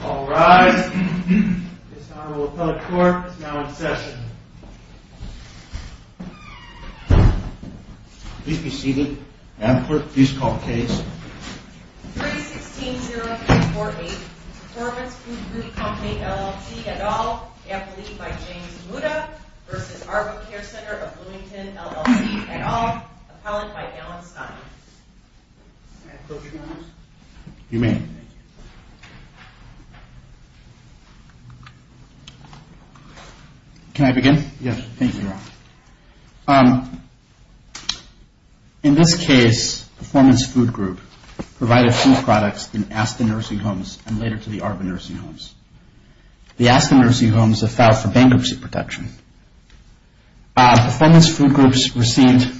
All rise. This Honorable Appellate Court is now in session. Please be seated. Advocate, please call the case. 3-16-0-8-4-8 Performance Food Group Co., LLC, et al. Appellee by James Muda v. ARBA Care Center of Bloomington, LLC, et al. Appellant by Alan Stein. May I close your case? You may. Can I begin? Yes. Thank you, Your Honor. In this case, Performance Food Group provided food products in ASTA Nursing Homes and later to the ARBA Nursing Homes. The ASTA Nursing Homes have filed for bankruptcy protection. Performance Food Groups received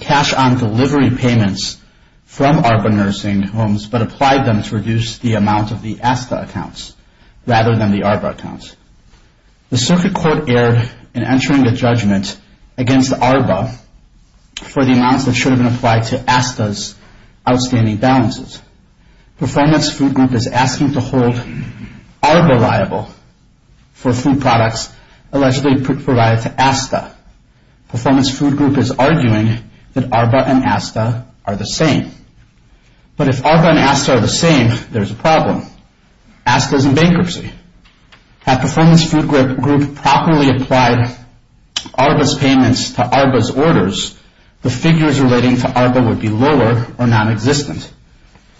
cash on delivery payments from ARBA Nursing Homes but applied them to reduce the amount of the ASTA accounts rather than the ARBA accounts. The Circuit Court erred in entering a judgment against ARBA for the amounts that should have been applied to ASTA's outstanding balances. Performance Food Group is asking to hold ARBA liable for food products allegedly provided to ASTA. Performance Food Group is arguing that ARBA and ASTA are the same. But if ARBA and ASTA are the same, there's a problem. ASTA is in bankruptcy. Had Performance Food Group properly applied ARBA's payments to ARBA's orders, the figures relating to ARBA would be lower or non-existent.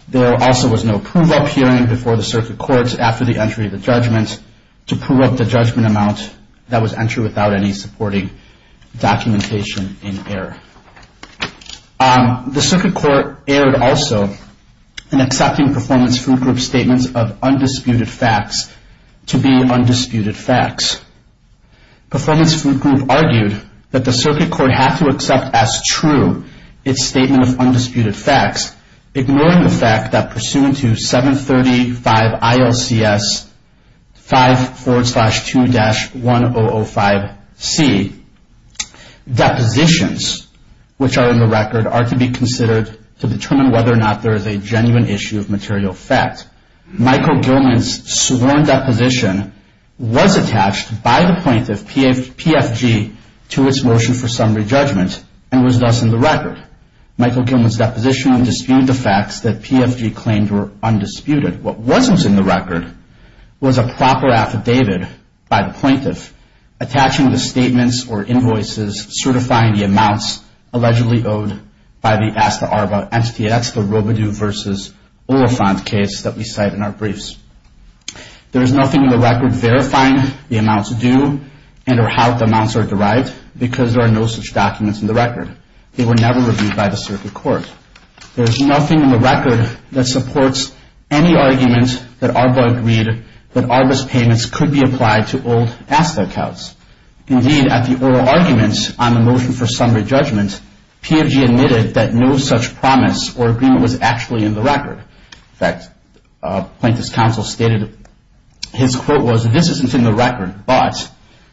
There also was no prove-up hearing before the Circuit Courts after the entry of the judgment to prove up the judgment amount that was entered without any supporting documentation in error. The Circuit Court erred also in accepting Performance Food Group's statements of undisputed facts to be undisputed facts. Performance Food Group argued that the Circuit Court had to accept as true its statement of undisputed facts, ignoring the fact that pursuant to 735 ILCS 5.2-1005C, depositions which are in the record are to be considered to determine whether or not there is a genuine issue of material fact. Michael Gilman's sworn deposition was attached by the plaintiff, PFG, to its motion for summary judgment and was thus in the record. Michael Gilman's deposition would dispute the facts that PFG claimed were undisputed. What wasn't in the record was a proper affidavit by the plaintiff attaching the statements or invoices certifying the amounts allegedly owed by the ASTA-ARBA entity. That's the Robidoux v. Oliphant case that we cite in our briefs. There is nothing in the record verifying the amounts due and or how the amounts are derived because there are no such documents in the record. They were never reviewed by the Circuit Court. There is nothing in the record that supports any argument that ARBA agreed that ARBA's payments could be applied to old ASTA accounts. Indeed, at the oral argument on the motion for summary judgment, PFG admitted that no such promise or agreement was actually in the record. In fact, Plaintiff's counsel stated his quote was, This isn't in the record, but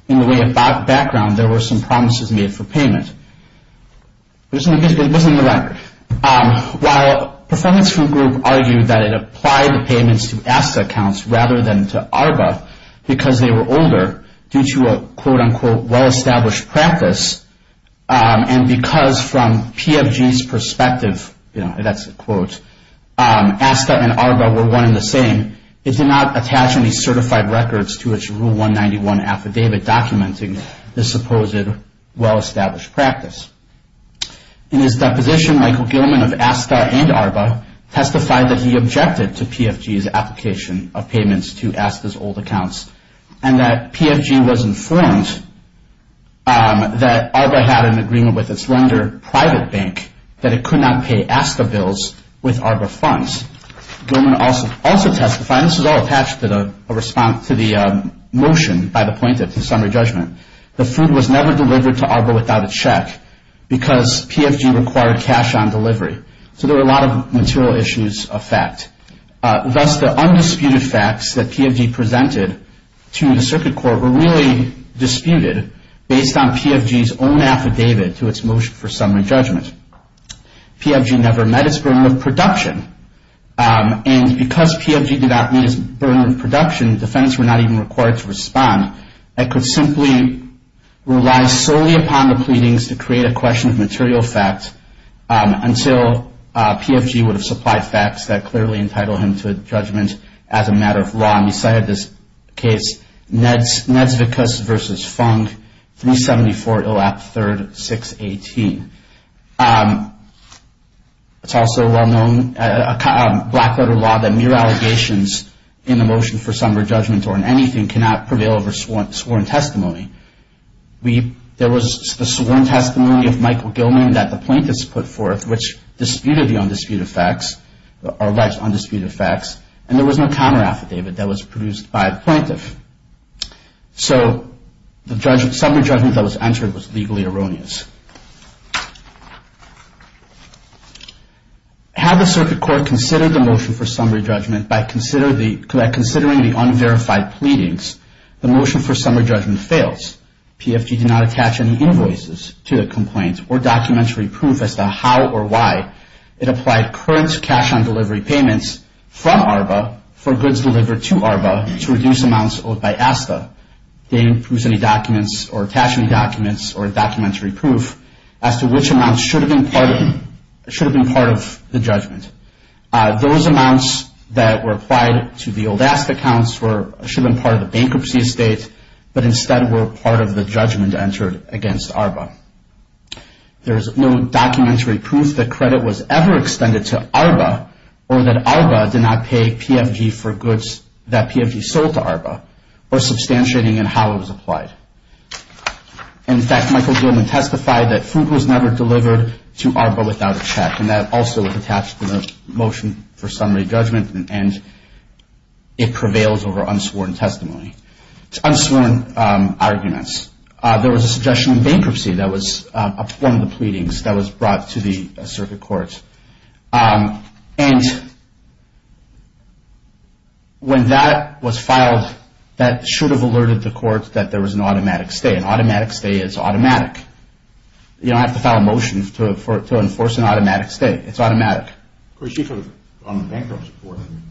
in the way of background, there were some promises made for payment. This isn't in the record. While performance group argued that it applied the payments to ASTA accounts rather than to ARBA because they were older due to a quote-unquote well-established practice and because from PFG's perspective, you know, that's a quote, ASTA and ARBA were one and the same, it did not attach any certified records to its Rule 191 affidavit documenting the supposed well-established practice. In his deposition, Michael Gilman of ASTA and ARBA testified that he objected to PFG's application of payments to ASTA's old accounts and that PFG was informed that ARBA had an agreement with its lender, Private Bank, that it could not pay ASTA bills with ARBA funds. Gilman also testified, and this is all attached to the motion by the Plaintiff to summary judgment, the food was never delivered to ARBA without a check because PFG required cash on delivery. So there were a lot of material issues of fact. Thus, the undisputed facts that PFG presented to the Circuit Court were really disputed based on PFG's own affidavit to its motion for summary judgment. PFG never met its burden of production and because PFG did not meet its burden of production, defendants were not even required to respond. It could simply rely solely upon the pleadings to create a question of material facts until PFG would have supplied facts that clearly entitled him to judgment as a matter of law. We cited this case, Nedsvickus v. Fung, 374 Illap III, 618. It's also well-known, a black-letter law, that mere allegations in the motion for summary judgment or in anything cannot prevail over sworn testimony. There was the sworn testimony of Michael Gilman that the Plaintiffs put forth, which disputed the undisputed facts, the alleged undisputed facts, and there was no counter-affidavit that was produced by the Plaintiff. So, the summary judgment that was entered was legally erroneous. Had the Circuit Court considered the motion for summary judgment by considering the unverified pleadings, the motion for summary judgment fails. PFG did not attach any invoices to the complaint or documentary proof as to how or why It applied current cash-on-delivery payments from ARBA for goods delivered to ARBA to reduce amounts owed by ASTA. They didn't prove any documents or attach any documents or documentary proof as to which amounts should have been part of the judgment. Those amounts that were applied to the old ASTA accounts should have been part of the bankruptcy estate, but instead were part of the judgment entered against ARBA. There's no documentary proof that credit was ever extended to ARBA or that ARBA did not pay PFG for goods that PFG sold to ARBA, or substantiating in how it was applied. In fact, Michael Gilman testified that food was never delivered to ARBA without a check, and that also was attached to the motion for summary judgment, and it prevails over unsworn testimony. Unsworn arguments. There was a suggestion in bankruptcy that was one of the pleadings that was brought to the circuit court, and when that was filed, that should have alerted the court that there was an automatic stay. An automatic stay is automatic. You don't have to file a motion to enforce an automatic stay. It's automatic. Of course, you could have gone to bankruptcy court and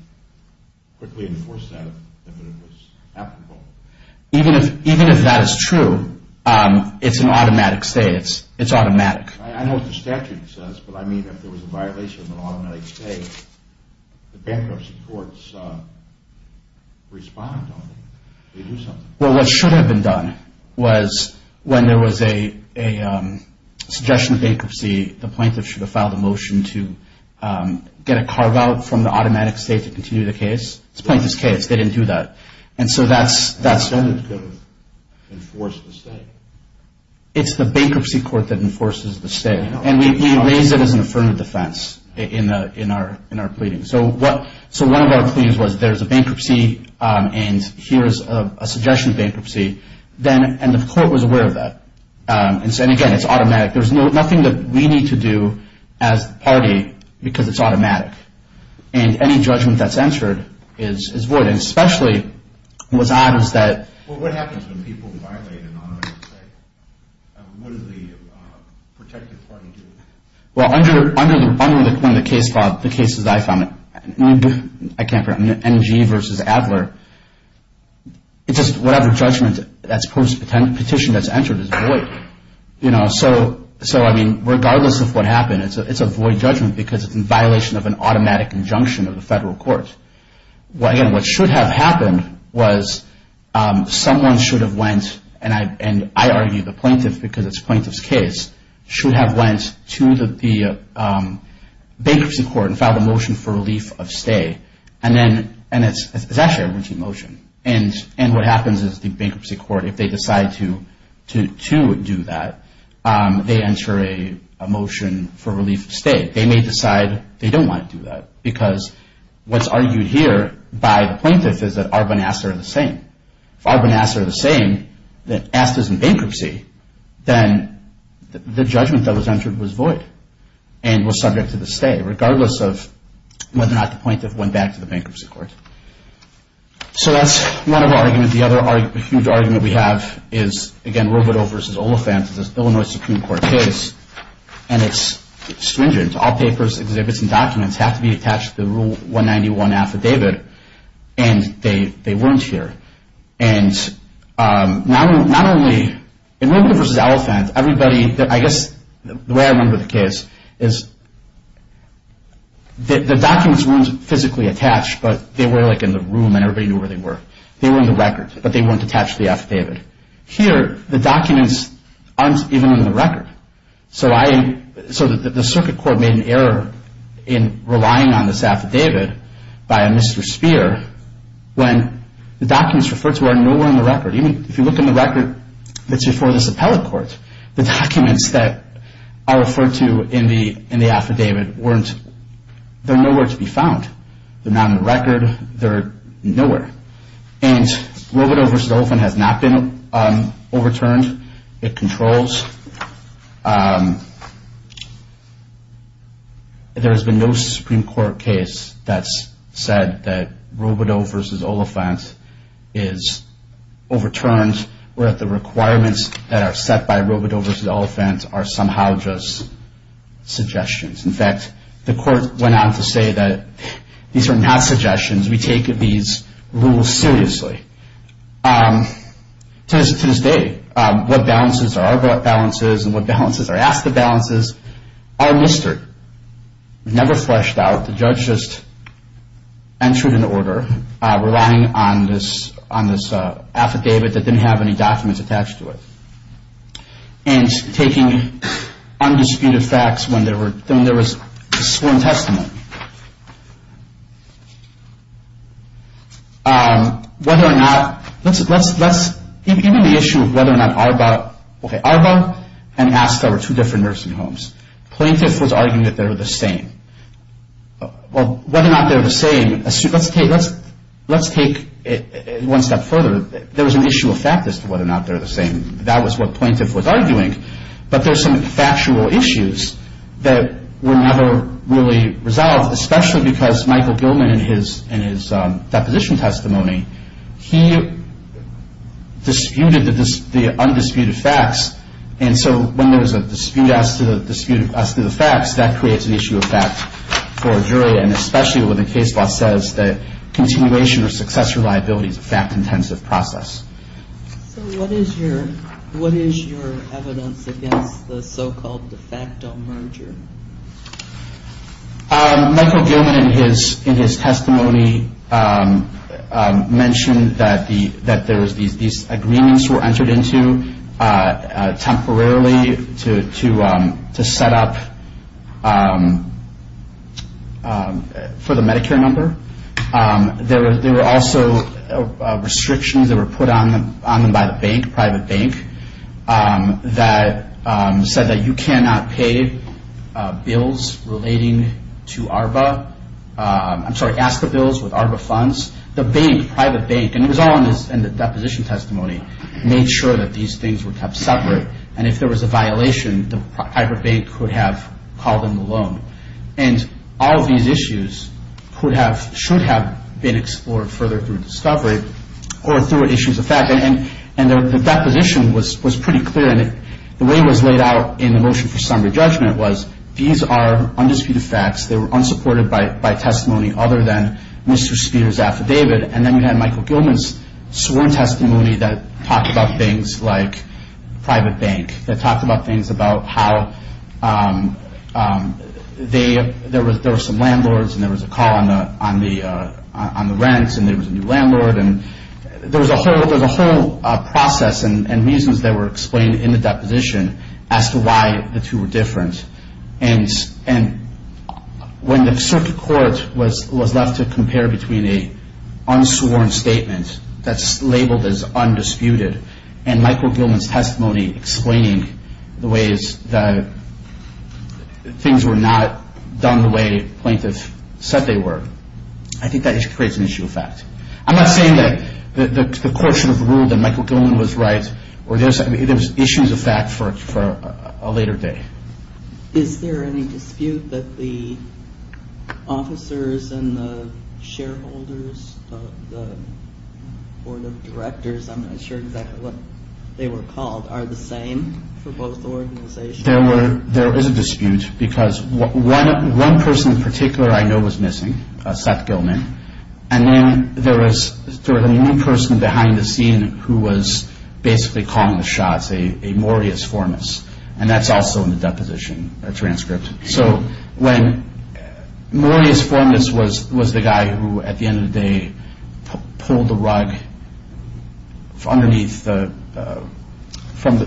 quickly enforced that if it was applicable. Even if that is true, it's an automatic stay. It's automatic. I know what the statute says, but I mean if there was a violation of an automatic stay, the bankruptcy courts respond to it. They do something. Well, what should have been done was when there was a suggestion of bankruptcy, the plaintiff should have filed a motion to get a carve-out from the automatic stay to continue the case. It's the plaintiff's case. They didn't do that. And so that's... The statute could have enforced the stay. It's the bankruptcy court that enforces the stay. And we raise it as an affirmative defense in our pleading. So one of our pleadings was there's a bankruptcy and here's a suggestion of bankruptcy, and the court was aware of that. And again, it's automatic. There's nothing that we need to do as the party because it's automatic. And any judgment that's answered is void. And especially what's odd is that... Well, what happens when people violate an automatic stay? What does the protective party do? Well, under the case, Bob, the cases I found, I can't remember, NG versus Adler, it's just whatever judgment that's post-petition that's entered is void. So, I mean, regardless of what happened, it's a void judgment because it's in violation of an automatic injunction of the federal court. Again, what should have happened was someone should have went, and I argue the plaintiff because it's a plaintiff's case, should have went to the bankruptcy court and filed a motion for relief of stay. And it's actually a routine motion. And what happens is the bankruptcy court, if they decide to do that, they enter a motion for relief of stay. They may decide they don't want to do that because what's argued here by the plaintiff is that Arbonne and Astor are the same. If Arbonne and Astor are the same, then Astor's in bankruptcy, then the judgment that was entered was void and was subject to the stay, regardless of whether or not the plaintiff went back to the bankruptcy court. So that's one of our arguments. The other huge argument we have is, again, Robledo versus Oliphant. It's an Illinois Supreme Court case, and it's stringent. All papers, exhibits, and documents have to be attached to the Rule 191 affidavit, and they weren't here. And not only – in Robledo versus Oliphant, everybody – I guess the way I remember the case is the documents weren't physically attached, but they were, like, in the room, and everybody knew where they were. They were in the record, but they weren't attached to the affidavit. Here, the documents aren't even in the record. So the circuit court made an error in relying on this affidavit by a Mr. Spear when the documents referred to are nowhere in the record. Even if you look in the record that's before this appellate court, the documents that are referred to in the affidavit weren't – they're nowhere to be found. They're not in the record. They're nowhere. And Robledo versus Oliphant has not been overturned. It controls. There has been no Supreme Court case that's said that Robledo versus Oliphant is overturned, or that the requirements that are set by Robledo versus Oliphant are somehow just suggestions. In fact, the court went on to say that these are not suggestions. We take these rules seriously. To this day, what balances are our balances and what balances are asked of balances are listed. Never fleshed out. The judge just entered an order relying on this affidavit that didn't have any documents attached to it. And taking undisputed facts when there was sworn testimony. Whether or not – let's – even the issue of whether or not Arba – okay, Arba and Aska were two different nursing homes. Plaintiff was arguing that they were the same. Well, whether or not they're the same – let's take one step further. There was an issue of fact as to whether or not they're the same. That was what plaintiff was arguing. But there's some factual issues that were never really resolved. Especially because Michael Gilman in his deposition testimony, he disputed the undisputed facts. And so when there was a dispute as to the facts, that creates an issue of fact for a jury. And especially when the case law says that continuation or success reliability is a fact-intensive process. So what is your evidence against the so-called de facto merger? Michael Gilman in his testimony mentioned that there was – these agreements were entered into temporarily to set up for the Medicare number. There were also restrictions that were put on them by the bank, private bank, that said that you cannot pay bills relating to Arba – I'm sorry, Aska bills with Arba funds. The bank, private bank – and it was all in the deposition testimony – made sure that these things were kept separate. And if there was a violation, the private bank could have called in the loan. And all of these issues should have been explored further through discovery or through issues of fact. And the deposition was pretty clear. And the way it was laid out in the motion for summary judgment was these are undisputed facts. They were unsupported by testimony other than Mr. Spears' affidavit. And then we had Michael Gilman's sworn testimony that talked about things like private bank, that talked about things about how there were some landlords and there was a call on the rent and there was a new landlord. And there was a whole process and reasons that were explained in the deposition as to why the two were different. And when the circuit court was left to compare between an unsworn statement that's labeled as undisputed and Michael Gilman's testimony explaining the ways that things were not done the way plaintiffs said they were, I think that creates an issue of fact. I'm not saying that the court should have ruled that Michael Gilman was right or there's issues of fact for a later day. Is there any dispute that the officers and the shareholders or the directors, I'm not sure exactly what they were called, are the same for both organizations? There is a dispute because one person in particular I know was missing, Seth Gilman, and then there was one person behind the scene who was basically calling the shots, a Morius Formas, and that's also in the deposition transcript. Morius Formas was the guy who, at the end of the day, pulled the rug from underneath the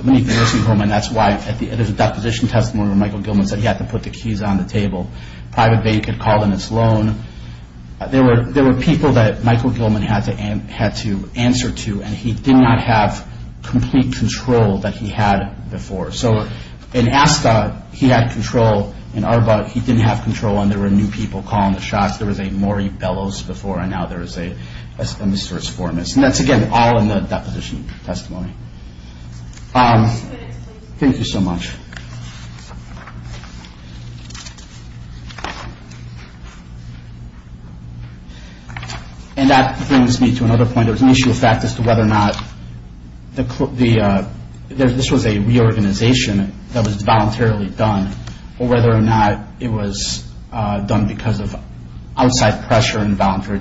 nursing home and that's why at the end of the deposition testimony where Michael Gilman said he had to put the keys on the table, private bank had called on his loan. There were people that Michael Gilman had to answer to and he did not have complete control that he had before. So in ASCA, he had control. In ARBA, he didn't have control and there were new people calling the shots. There was a Maury Bellows before and now there is a Mr. Formas. And that's, again, all in the deposition testimony. Thank you so much. And that brings me to another point. There was an issue of fact as to whether or not this was a reorganization that was voluntarily done or whether or not it was done because of outside pressure and voluntary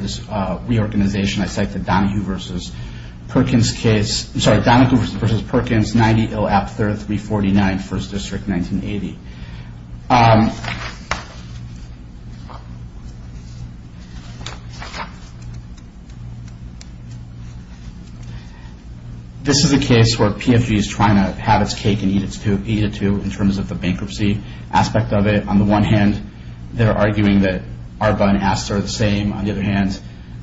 reorganization. I cite the Donahue versus Perkins case. This is a case where PFG is trying to have its cake and eat it too in terms of the bankruptcy aspect of it. On the one hand, they're arguing that ARBA and ASCA are the same. On the other hand,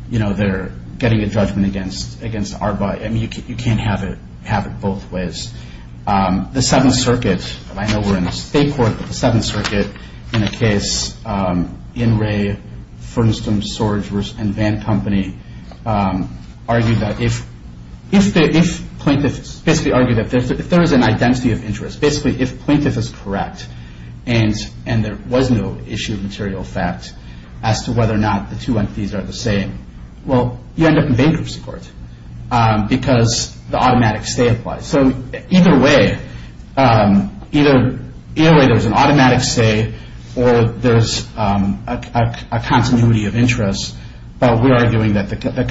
they're getting a judgment against ARBA. You can't have it both ways. The Seventh Circuit, and I know we're in a state court, but the Seventh Circuit, in a case, In Re, Furnaston, Sorge, and Van Company argued that if plaintiffs basically argued that if there is an identity of interest, basically if plaintiff is correct and there was no issue of material fact as to whether or not the two entities are the same, well, you end up in bankruptcy court because the automatic stay applies. So either way, there's an automatic stay or there's a continuity of interest, but we're arguing that the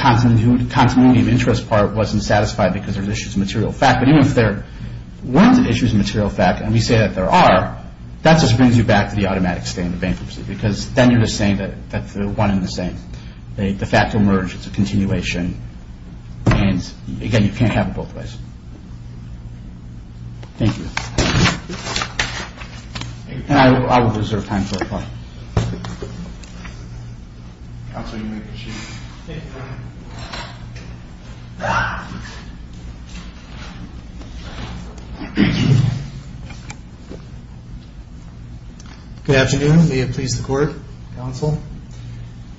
continuity of interest part wasn't satisfied because there's issues of material fact. But even if there weren't issues of material fact and we say that there are, that just brings you back to the automatic stay in the bankruptcy because then you're just saying that that's the one and the same. The fact will merge. It's a continuation. And again, you can't have it both ways. Thank you. And I will reserve time for reply. Counsel, you may proceed. Good afternoon. May it please the court, counsel.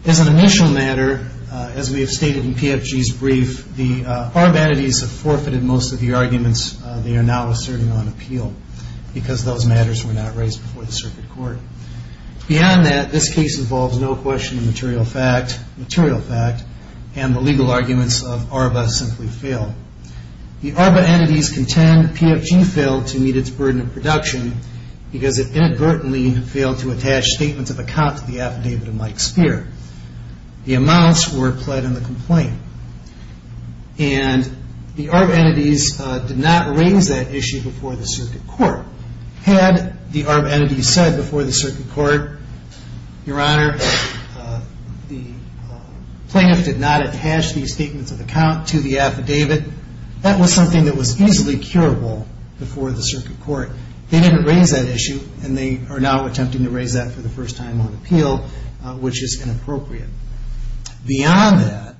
As an initial matter, as we have stated in PFG's brief, the ARBA entities have forfeited most of the arguments they are now asserting on appeal because those matters were not raised before the circuit court. Beyond that, this case involves no question of material fact, and the legal arguments of ARBA simply fail. The ARBA entities contend PFG failed to meet its burden of production because it inadvertently failed to attach statements of account to the affidavit of Mike Speer. The amounts were pled in the complaint. And the ARBA entities did not raise that issue before the circuit court. Had the ARBA entities said before the circuit court, Your Honor, the plaintiff did not attach these statements of account to the affidavit, that was something that was easily curable before the circuit court. They didn't raise that issue, and they are now attempting to raise that for the first time on appeal, which is inappropriate. Beyond that,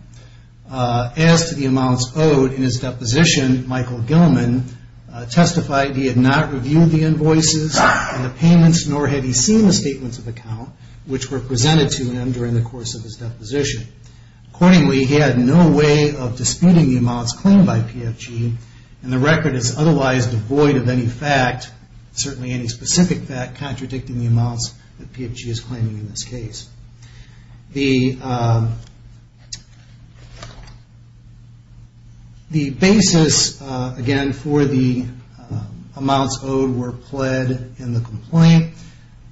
as to the amounts owed in his deposition, Michael Gilman testified he had not reviewed the invoices and the payments, nor had he seen the statements of account which were presented to him during the course of his deposition. Accordingly, he had no way of disputing the amounts claimed by PFG, and the record is otherwise devoid of any fact, certainly any specific fact, contradicting the amounts that PFG is claiming in this case. The basis, again, for the amounts owed were pled in the complaint.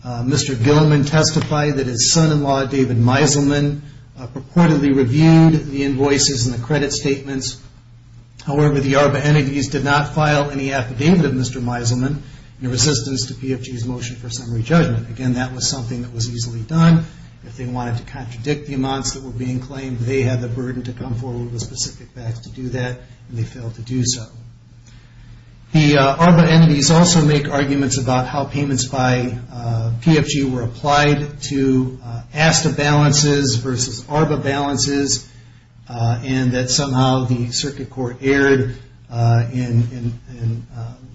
Mr. Gilman testified that his son-in-law, David Meiselman, purportedly reviewed the invoices and the credit statements. However, the ARBA entities did not file any affidavit of Mr. Meiselman in resistance to PFG's motion for summary judgment. Again, that was something that was easily done. If they wanted to contradict the amounts that were being claimed, they had the burden to come forward with specific facts to do that, and they failed to do so. The ARBA entities also make arguments about how payments by PFG were applied to ASTA balances versus ARBA balances, and that somehow the circuit court erred in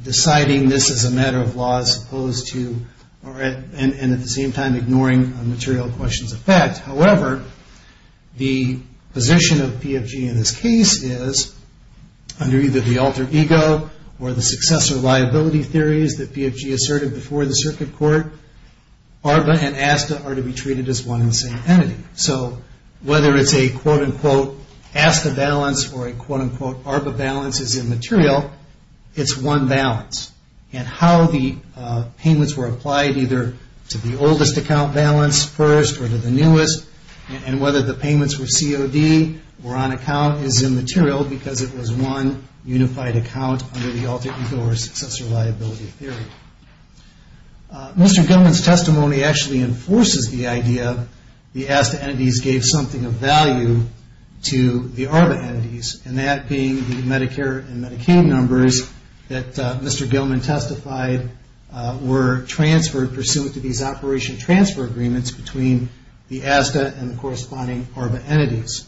deciding this as a matter of law as opposed to, and at the same time, ignoring material questions of fact. However, the position of PFG in this case is, under either the alter ego or the successor liability theories that PFG asserted before the circuit court, ARBA and ASTA are to be treated as one and the same entity. So whether it's a quote-unquote ASTA balance or a quote-unquote ARBA balance is immaterial, it's one balance, and how the payments were applied, either to the oldest account balance first or to the newest, and whether the payments were COD or on account is immaterial because it was one unified account under the alter ego or successor liability theory. Mr. Gilman's testimony actually enforces the idea that the ASTA entities gave something of value to the ARBA entities, and that being the Medicare and Medicaid numbers that Mr. Gilman testified were transferred pursuant to these operation transfer agreements between the ASTA and the corresponding ARBA entities.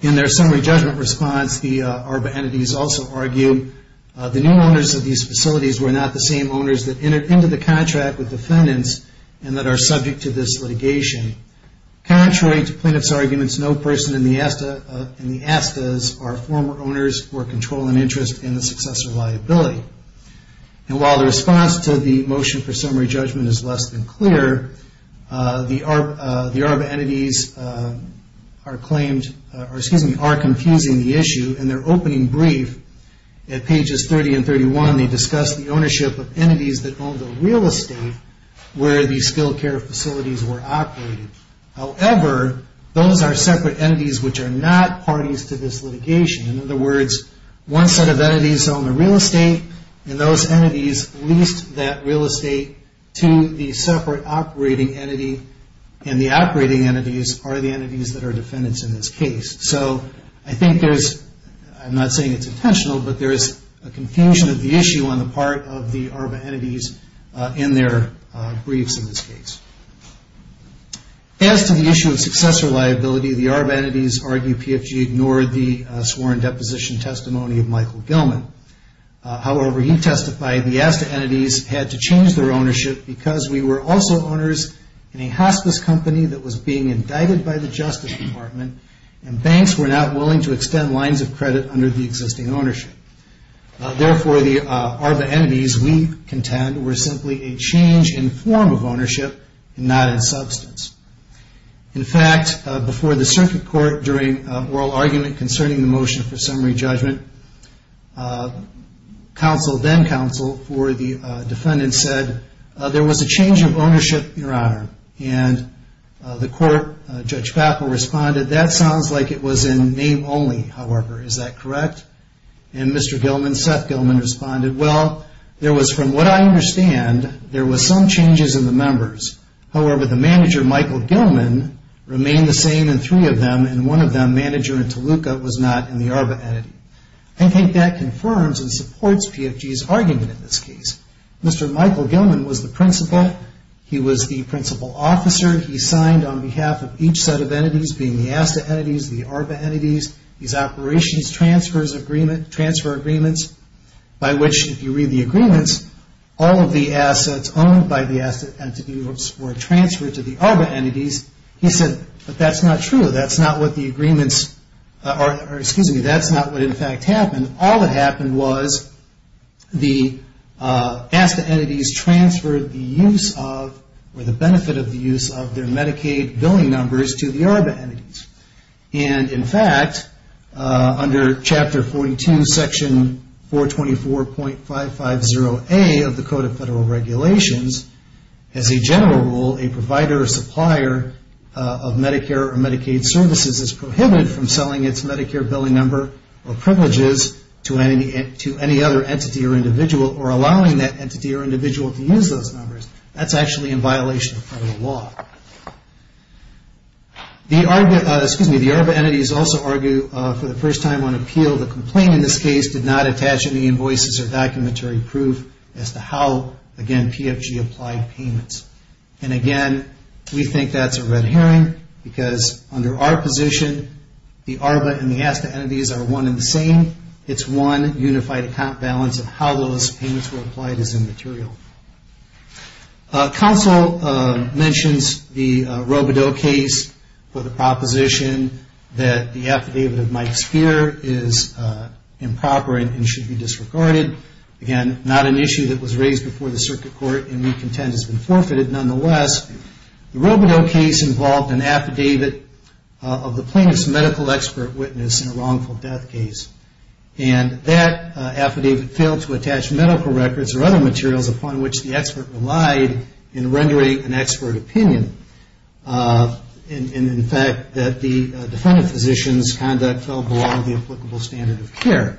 In their summary judgment response, the ARBA entities also argue the new owners of these facilities were not the same owners that entered into the contract with defendants and that are subject to this litigation. Contrary to plaintiff's arguments, no person in the ASTA's are former owners or control an interest in the successor liability. And while the response to the motion for summary judgment is less than clear, the ARBA entities are confusing the issue, and their opening brief at pages 30 and 31, they discuss the ownership of entities that own the real estate where the skilled care facilities were operated. However, those are separate entities which are not parties to this litigation. In other words, one set of entities own the real estate, and those entities leased that real estate to the separate operating entity, and the operating entities are the entities that are defendants in this case. So I think there's, I'm not saying it's intentional, but there's a confusion of the issue on the part of the ARBA entities in their briefs in this case. As to the issue of successor liability, the ARBA entities argue PFG ignored the sworn deposition testimony of Michael Gilman. However, he testified the ASTA entities had to change their ownership because we were also owners in a hospice company that was being indicted by the Justice Department and banks were not willing to extend lines of credit under the existing ownership. Therefore, the ARBA entities, we contend, were simply a change in form of ownership and not in substance. In fact, before the circuit court during oral argument concerning the motion for summary judgment, counsel then counsel for the defendant said, there was a change of ownership, Your Honor, and the court, Judge Papel responded, that sounds like it was in name only, however. Is that correct? And Mr. Gilman, Seth Gilman, responded, well, there was, from what I understand, there was some changes in the members. However, the manager, Michael Gilman, remained the same in three of them, and one of them, manager in Toluca, was not in the ARBA entity. I think that confirms and supports PFG's argument in this case. Mr. Michael Gilman was the principal. He was the principal officer. He signed on behalf of each set of entities, being the ASTA entities, the ARBA entities, these operations transfer agreements by which, if you read the agreements, all of the assets owned by the ASTA entities were transferred to the ARBA entities. He said, but that's not true. That's not what the agreements, or excuse me, that's not what in fact happened. All that happened was the ASTA entities transferred the use of, or the benefit of the use of their Medicaid billing numbers to the ARBA entities. And, in fact, under Chapter 42, Section 424.550A of the Code of Federal Regulations, as a general rule, a provider or supplier of Medicare or Medicaid services is prohibited from selling its Medicare billing number or privileges to any other entity or individual, or allowing that entity or individual to use those numbers. That's actually in violation of federal law. The ARBA entities also argue, for the first time on appeal, the complaint in this case did not attach any invoices or documentary proof as to how, again, PFG applied payments. And, again, we think that's a red herring because under our position, the ARBA and the ASTA entities are one and the same. It's one unified account balance of how those payments were applied is immaterial. Counsel mentions the Robodeaux case for the proposition that the affidavit of Mike Speer is improper and should be disregarded. Again, not an issue that was raised before the circuit court and we contend has been forfeited, nonetheless. The Robodeaux case involved an affidavit of the plaintiff's medical expert witness in a wrongful death case. And that affidavit failed to attach medical records or other materials upon which the expert relied in rendering an expert opinion. And, in fact, that the defendant physician's conduct fell below the applicable standard of care.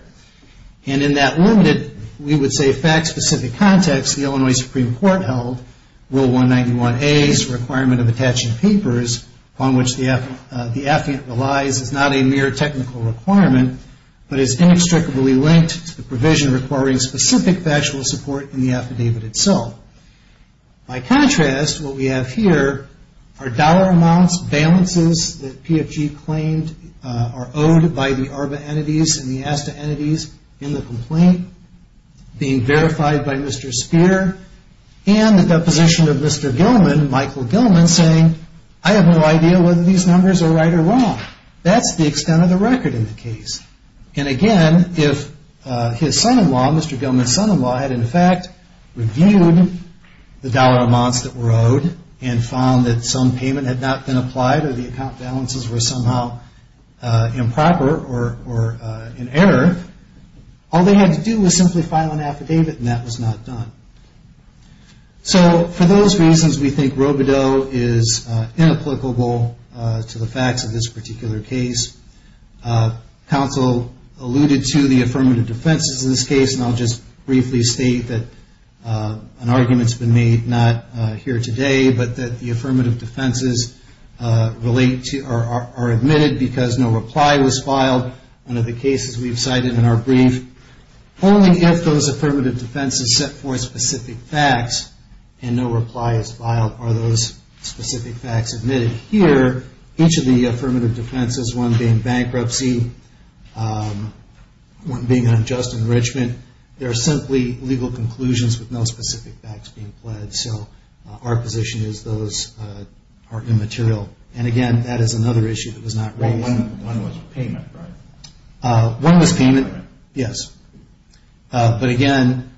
And in that limited, we would say fact-specific context, the Illinois Supreme Court held Rule 191A's requirement of attaching papers upon which the affidavit relies is not a mere technical requirement but is inextricably linked to the provision requiring specific factual support in the affidavit itself. By contrast, what we have here are dollar amounts, balances that PFG claimed are owed by the ARBA entities and the ASTA entities in the complaint being verified by Mr. Speer and the deposition of Mr. Gilman, Michael Gilman, saying, I have no idea whether these numbers are right or wrong. That's the extent of the record in the case. And, again, if his son-in-law, Mr. Gilman's son-in-law, had, in fact, reviewed the dollar amounts that were owed and found that some payment had not been applied or the account balances were somehow improper or in error, all they had to do was simply file an affidavit, and that was not done. So, for those reasons, we think Robodeau is inapplicable to the facts of this particular case. Counsel alluded to the affirmative defenses in this case, and I'll just briefly state that an argument has been made, not here today, but that the affirmative defenses are admitted because no reply was filed. One of the cases we've cited in our brief, only if those affirmative defenses set forth specific facts and no reply is filed are those specific facts admitted. Here, each of the affirmative defenses, one being bankruptcy, one being unjust enrichment, they're simply legal conclusions with no specific facts being pledged. So our position is those are immaterial. And, again, that is another issue that was not raised. One was payment, right? One was payment, yes. But, again,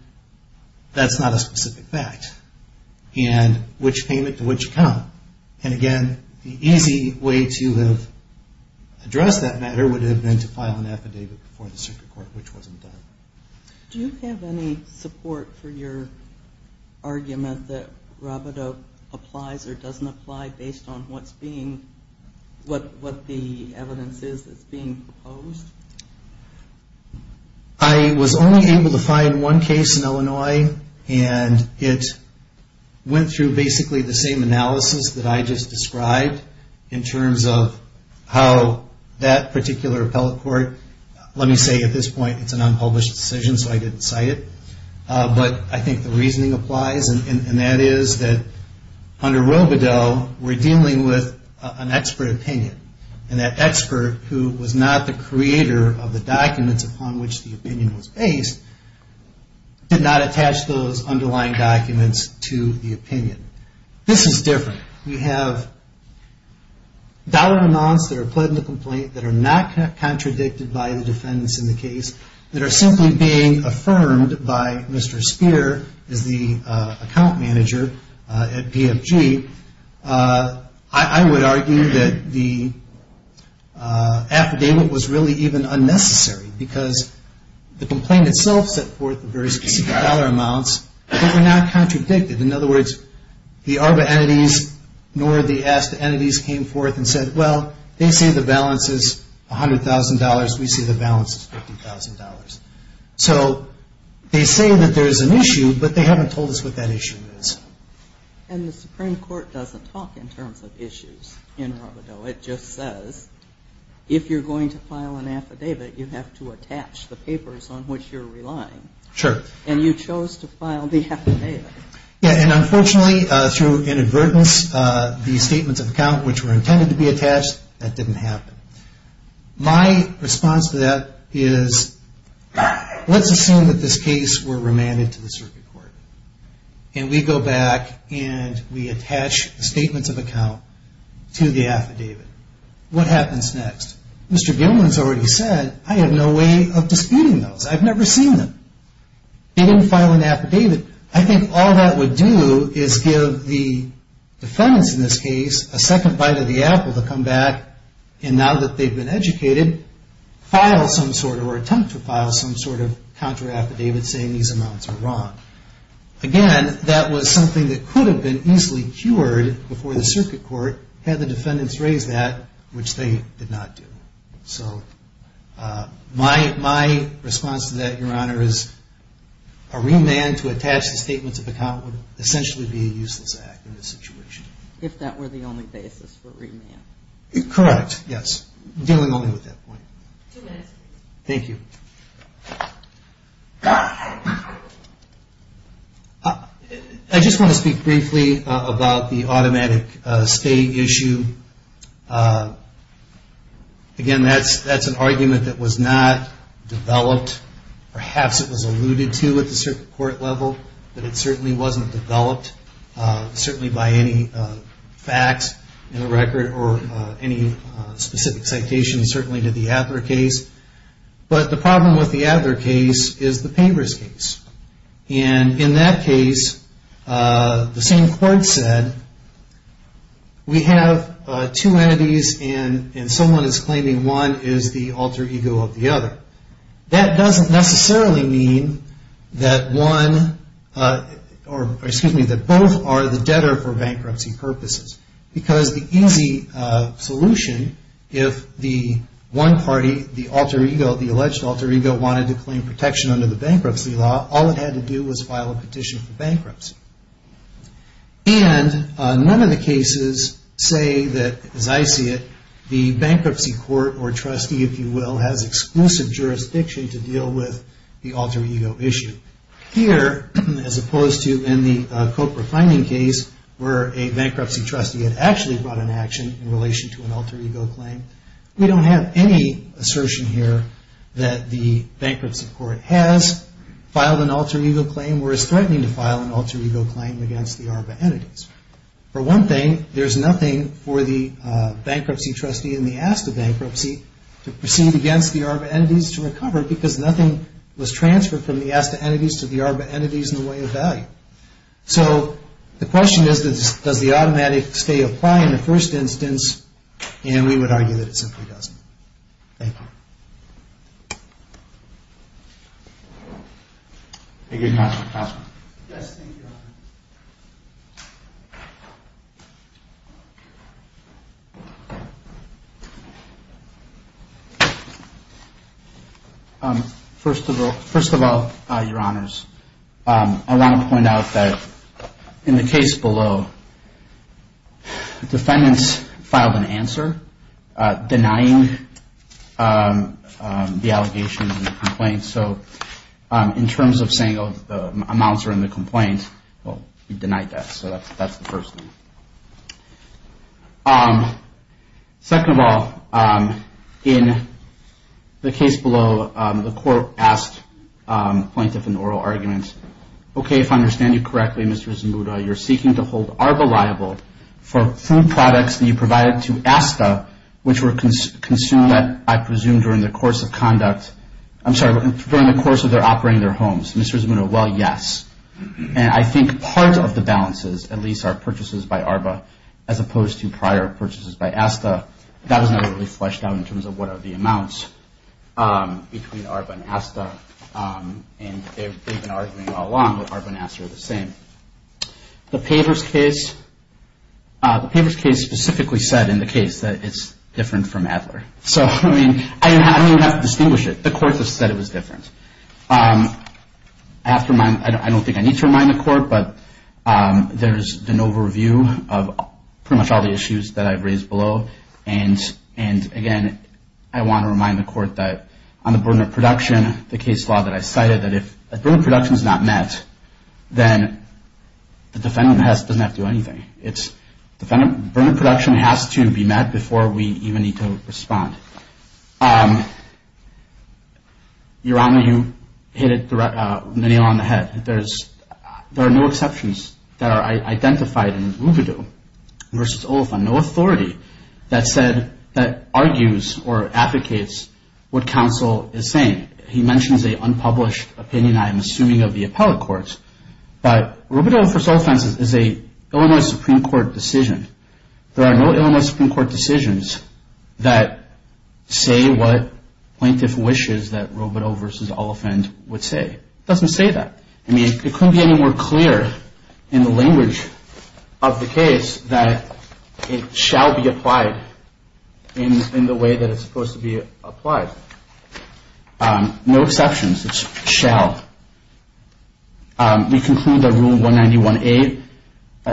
that's not a specific fact. And which payment to which account? And, again, the easy way to address that matter would have been to file an affidavit before the circuit court, which wasn't done. Do you have any support for your argument that Robodeau applies or doesn't apply based on what the evidence is that's being proposed? I was only able to find one case in Illinois, and it went through basically the same analysis that I just described in terms of how that particular appellate court, let me say at this point it's an unpublished decision so I didn't cite it. But I think the reasoning applies, and that is that under Robodeau we're dealing with an expert opinion. And that expert, who was not the creator of the documents upon which the opinion was based, did not attach those underlying documents to the opinion. This is different. We have dollar amounts that are put in the complaint that are not contradicted by the defendants in the case that are simply being affirmed by Mr. Spear as the account manager at PFG. I would argue that the affidavit was really even unnecessary because the complaint itself set forth the various dollar amounts that were not contradicted. In other words, the ARBA entities nor the ASTA entities came forth and said, well, they say the balance is $100,000. We say the balance is $50,000. So they say that there's an issue, but they haven't told us what that issue is. And the Supreme Court doesn't talk in terms of issues in Robodeau. It just says if you're going to file an affidavit, you have to attach the papers on which you're relying. Sure. And you chose to file the affidavit. Yeah, and unfortunately, through inadvertence, the statements of account which were intended to be attached, that didn't happen. My response to that is let's assume that this case were remanded to the circuit court. And we go back and we attach the statements of account to the affidavit. What happens next? Mr. Gilman has already said, I have no way of disputing those. I've never seen them. They didn't file an affidavit. I think all that would do is give the defendants in this case a second bite of the apple to come back and now that they've been educated, file some sort or attempt to file some sort of contra affidavit saying these amounts are wrong. Again, that was something that could have been easily cured before the circuit court had the defendants raised that, which they did not do. So my response to that, Your Honor, is a remand to attach the statements of account would essentially be a useless act in this situation. If that were the only basis for remand. Correct, yes. Dealing only with that point. Two minutes. Thank you. I just want to speak briefly about the automatic stay issue. Again, that's an argument that was not developed. Perhaps it was alluded to at the circuit court level, but it certainly wasn't developed. Certainly by any facts in the record or any specific citations, certainly to the Adler case. But the problem with the Adler case is the Pavers case. And in that case, the same court said, we have two entities and someone is claiming one is the alter ego of the other. That doesn't necessarily mean that one, or excuse me, that both are the debtor for bankruptcy purposes. Because the easy solution, if the one party, the alter ego, the alleged alter ego wanted to claim protection under the bankruptcy law, all it had to do was file a petition for bankruptcy. And none of the cases say that, as I see it, the bankruptcy court or trustee, if you will, has exclusive jurisdiction to deal with the alter ego issue. Here, as opposed to in the Copra finding case, where a bankruptcy trustee had actually brought an action in relation to an alter ego claim, we don't have any assertion here that the bankruptcy court has filed an alter ego claim or is threatening to file an alter ego claim against the ARPA entities. For one thing, there's nothing for the bankruptcy trustee in the ASTA bankruptcy to proceed against the ARPA entities to recover because nothing was transferred from the ASTA entities to the ARPA entities in the way of value. So the question is, does the automatic stay apply in the first instance? And we would argue that it simply doesn't. Thank you. Thank you, Counselor. Yes, thank you, Your Honor. First of all, Your Honors, I want to point out that in the case below, defendants filed an answer denying the allegations and complaints. So in terms of saying, oh, the amounts are in the complaint, well, we denied that. So that's the first thing. Second of all, in the case below, the court asked the plaintiff in the oral argument, okay, if I understand you correctly, Mr. Zmuda, you're seeking to hold ARPA liable for food products that you provided to ASTA, which were consumed, I presume, during the course of conduct, I'm sorry, during the course of their operating their homes. Mr. Zmuda, well, yes. And I think part of the balances, at least, are purchases by ARPA as opposed to prior purchases by ASTA. That was never really fleshed out in terms of what are the amounts between ARPA and ASTA. And they've been arguing all along that ARPA and ASTA are the same. The Pavers case specifically said in the case that it's different from Adler. So, I mean, I don't even have to distinguish it. The court just said it was different. I don't think I need to remind the court, but there's an overview of pretty much all the issues that I've raised below. And, again, I want to remind the court that on the burden of production, the case law that I cited, that if the burden of production is not met, then the defendant doesn't have to do anything. The burden of production has to be met before we even need to respond. Your Honor, you hit the nail on the head. There are no exceptions that are identified in Rubidoux v. Oliphant. No authority that argues or advocates what counsel is saying. He mentions an unpublished opinion, I am assuming, of the appellate courts. But Rubidoux v. Oliphant is an Illinois Supreme Court decision. There are no Illinois Supreme Court decisions that say what plaintiff wishes that Rubidoux v. Oliphant would say. It doesn't say that. I mean, it couldn't be any more clear in the language of the case that it shall be applied in the way that it's supposed to be applied. No exceptions. It's shall. We conclude that Rule 191A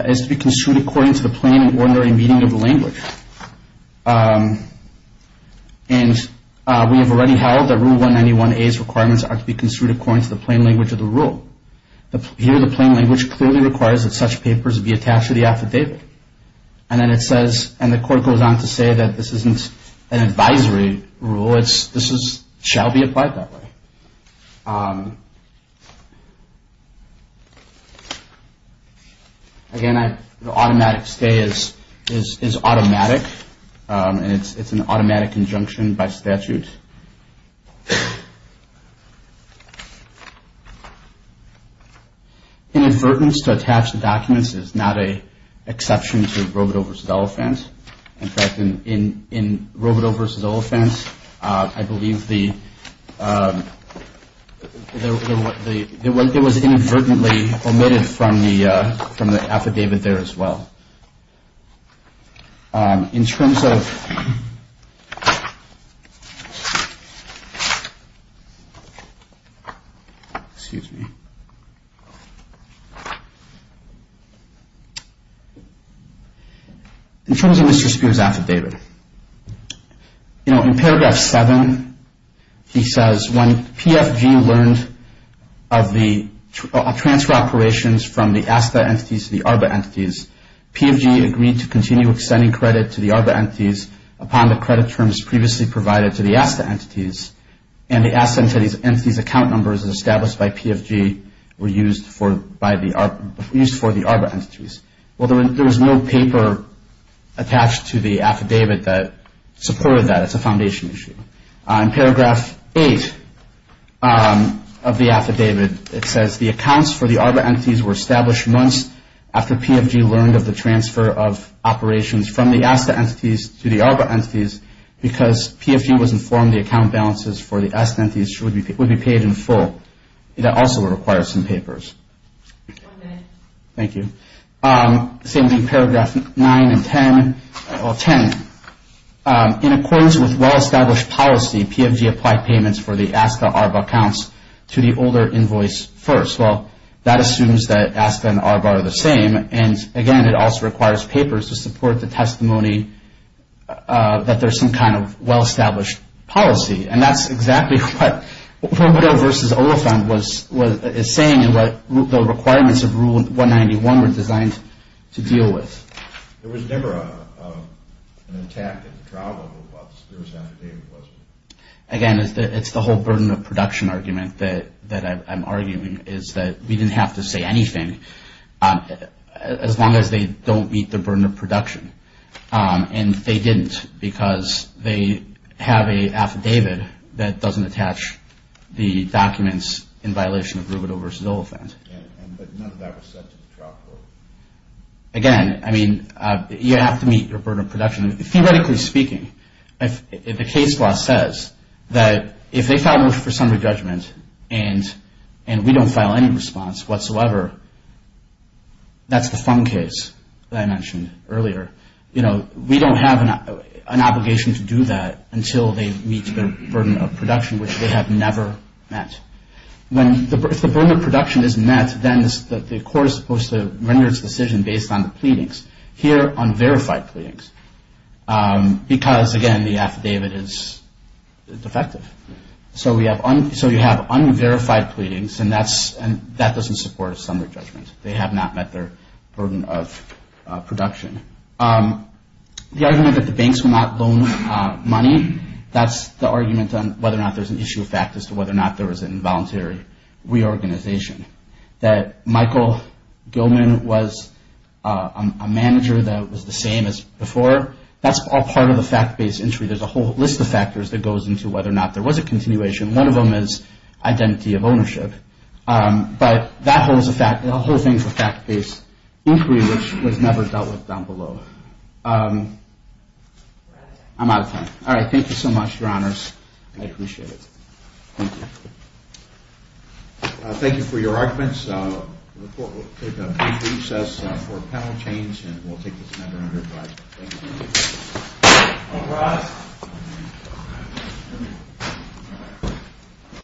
is to be construed according to the plain and ordinary meaning of the language. And we have already held that Rule 191A's requirements are to be construed according to the plain language of the rule. Here, the plain language clearly requires that such papers be attached to the affidavit. And then it says, and the court goes on to say that this isn't an advisory rule. This shall be applied that way. Again, the automatic stay is automatic, and it's an automatic injunction by statute. Inadvertence to attach the documents is not an exception to Rubidoux v. Oliphant. In fact, in Rubidoux v. Oliphant, I believe there was inadvertently omitted from the affidavit there as well. In terms of Mr. Spear's affidavit, in paragraph 7, he says, when PFG learned of the transfer operations from the ASTA entities to the ARBA entities, PFG agreed to continue extending credit to the ARBA entities upon the credit terms previously provided to the ASTA entities, and the ASTA entities' account numbers established by PFG were used for the ARBA entities. Well, there was no paper attached to the affidavit that supported that. It's a foundation issue. In paragraph 8 of the affidavit, it says, the accounts for the ARBA entities were established months after PFG learned of the transfer of operations from the ASTA entities to the ARBA entities because PFG was informed the account balances for the ASTA entities would be paid in full. That also would require some papers. Thank you. Same thing in paragraph 9 and 10. In accordance with well-established policy, PFG applied payments for the ASTA ARBA accounts to the older invoice first. Well, that assumes that ASTA and ARBA are the same, and again, it also requires papers to support the testimony that there's some kind of well-established policy, and that's exactly what Roberto versus Oliphant is saying, and what the requirements of Rule 191 were designed to deal with. There was never an attack at the trial level about the spurious affidavit, was there? Again, it's the whole burden of production argument that I'm arguing, is that we didn't have to say anything as long as they don't meet the burden of production, and they didn't because they have an affidavit that doesn't attach the documents in violation of Roberto versus Oliphant. Yeah, but none of that was said to the trial court. Again, I mean, you have to meet your burden of production. Theoretically speaking, the case law says that if they file motion for summary judgment and we don't file any response whatsoever, that's the fun case that I mentioned earlier. You know, we don't have an obligation to do that until they meet the burden of production, which they have never met. If the burden of production is met, then the court is supposed to render its decision based on the pleadings. Here, unverified pleadings because, again, the affidavit is defective. So you have unverified pleadings, and that doesn't support a summary judgment. They have not met their burden of production. The argument that the banks will not loan money, that's the argument on whether or not there's an issue of fact as to whether or not there was an involuntary reorganization. That Michael Gilman was a manager that was the same as before, that's all part of the fact-based entry. There's a whole list of factors that goes into whether or not there was a continuation. One of them is identity of ownership. But that whole thing is a fact-based inquiry, which was never dealt with down below. I'm out of time. All right, thank you so much, Your Honors. I appreciate it. Thank you. Thank you for your arguments. The court will take a brief recess for panel change, and we'll take this matter under review. All rise.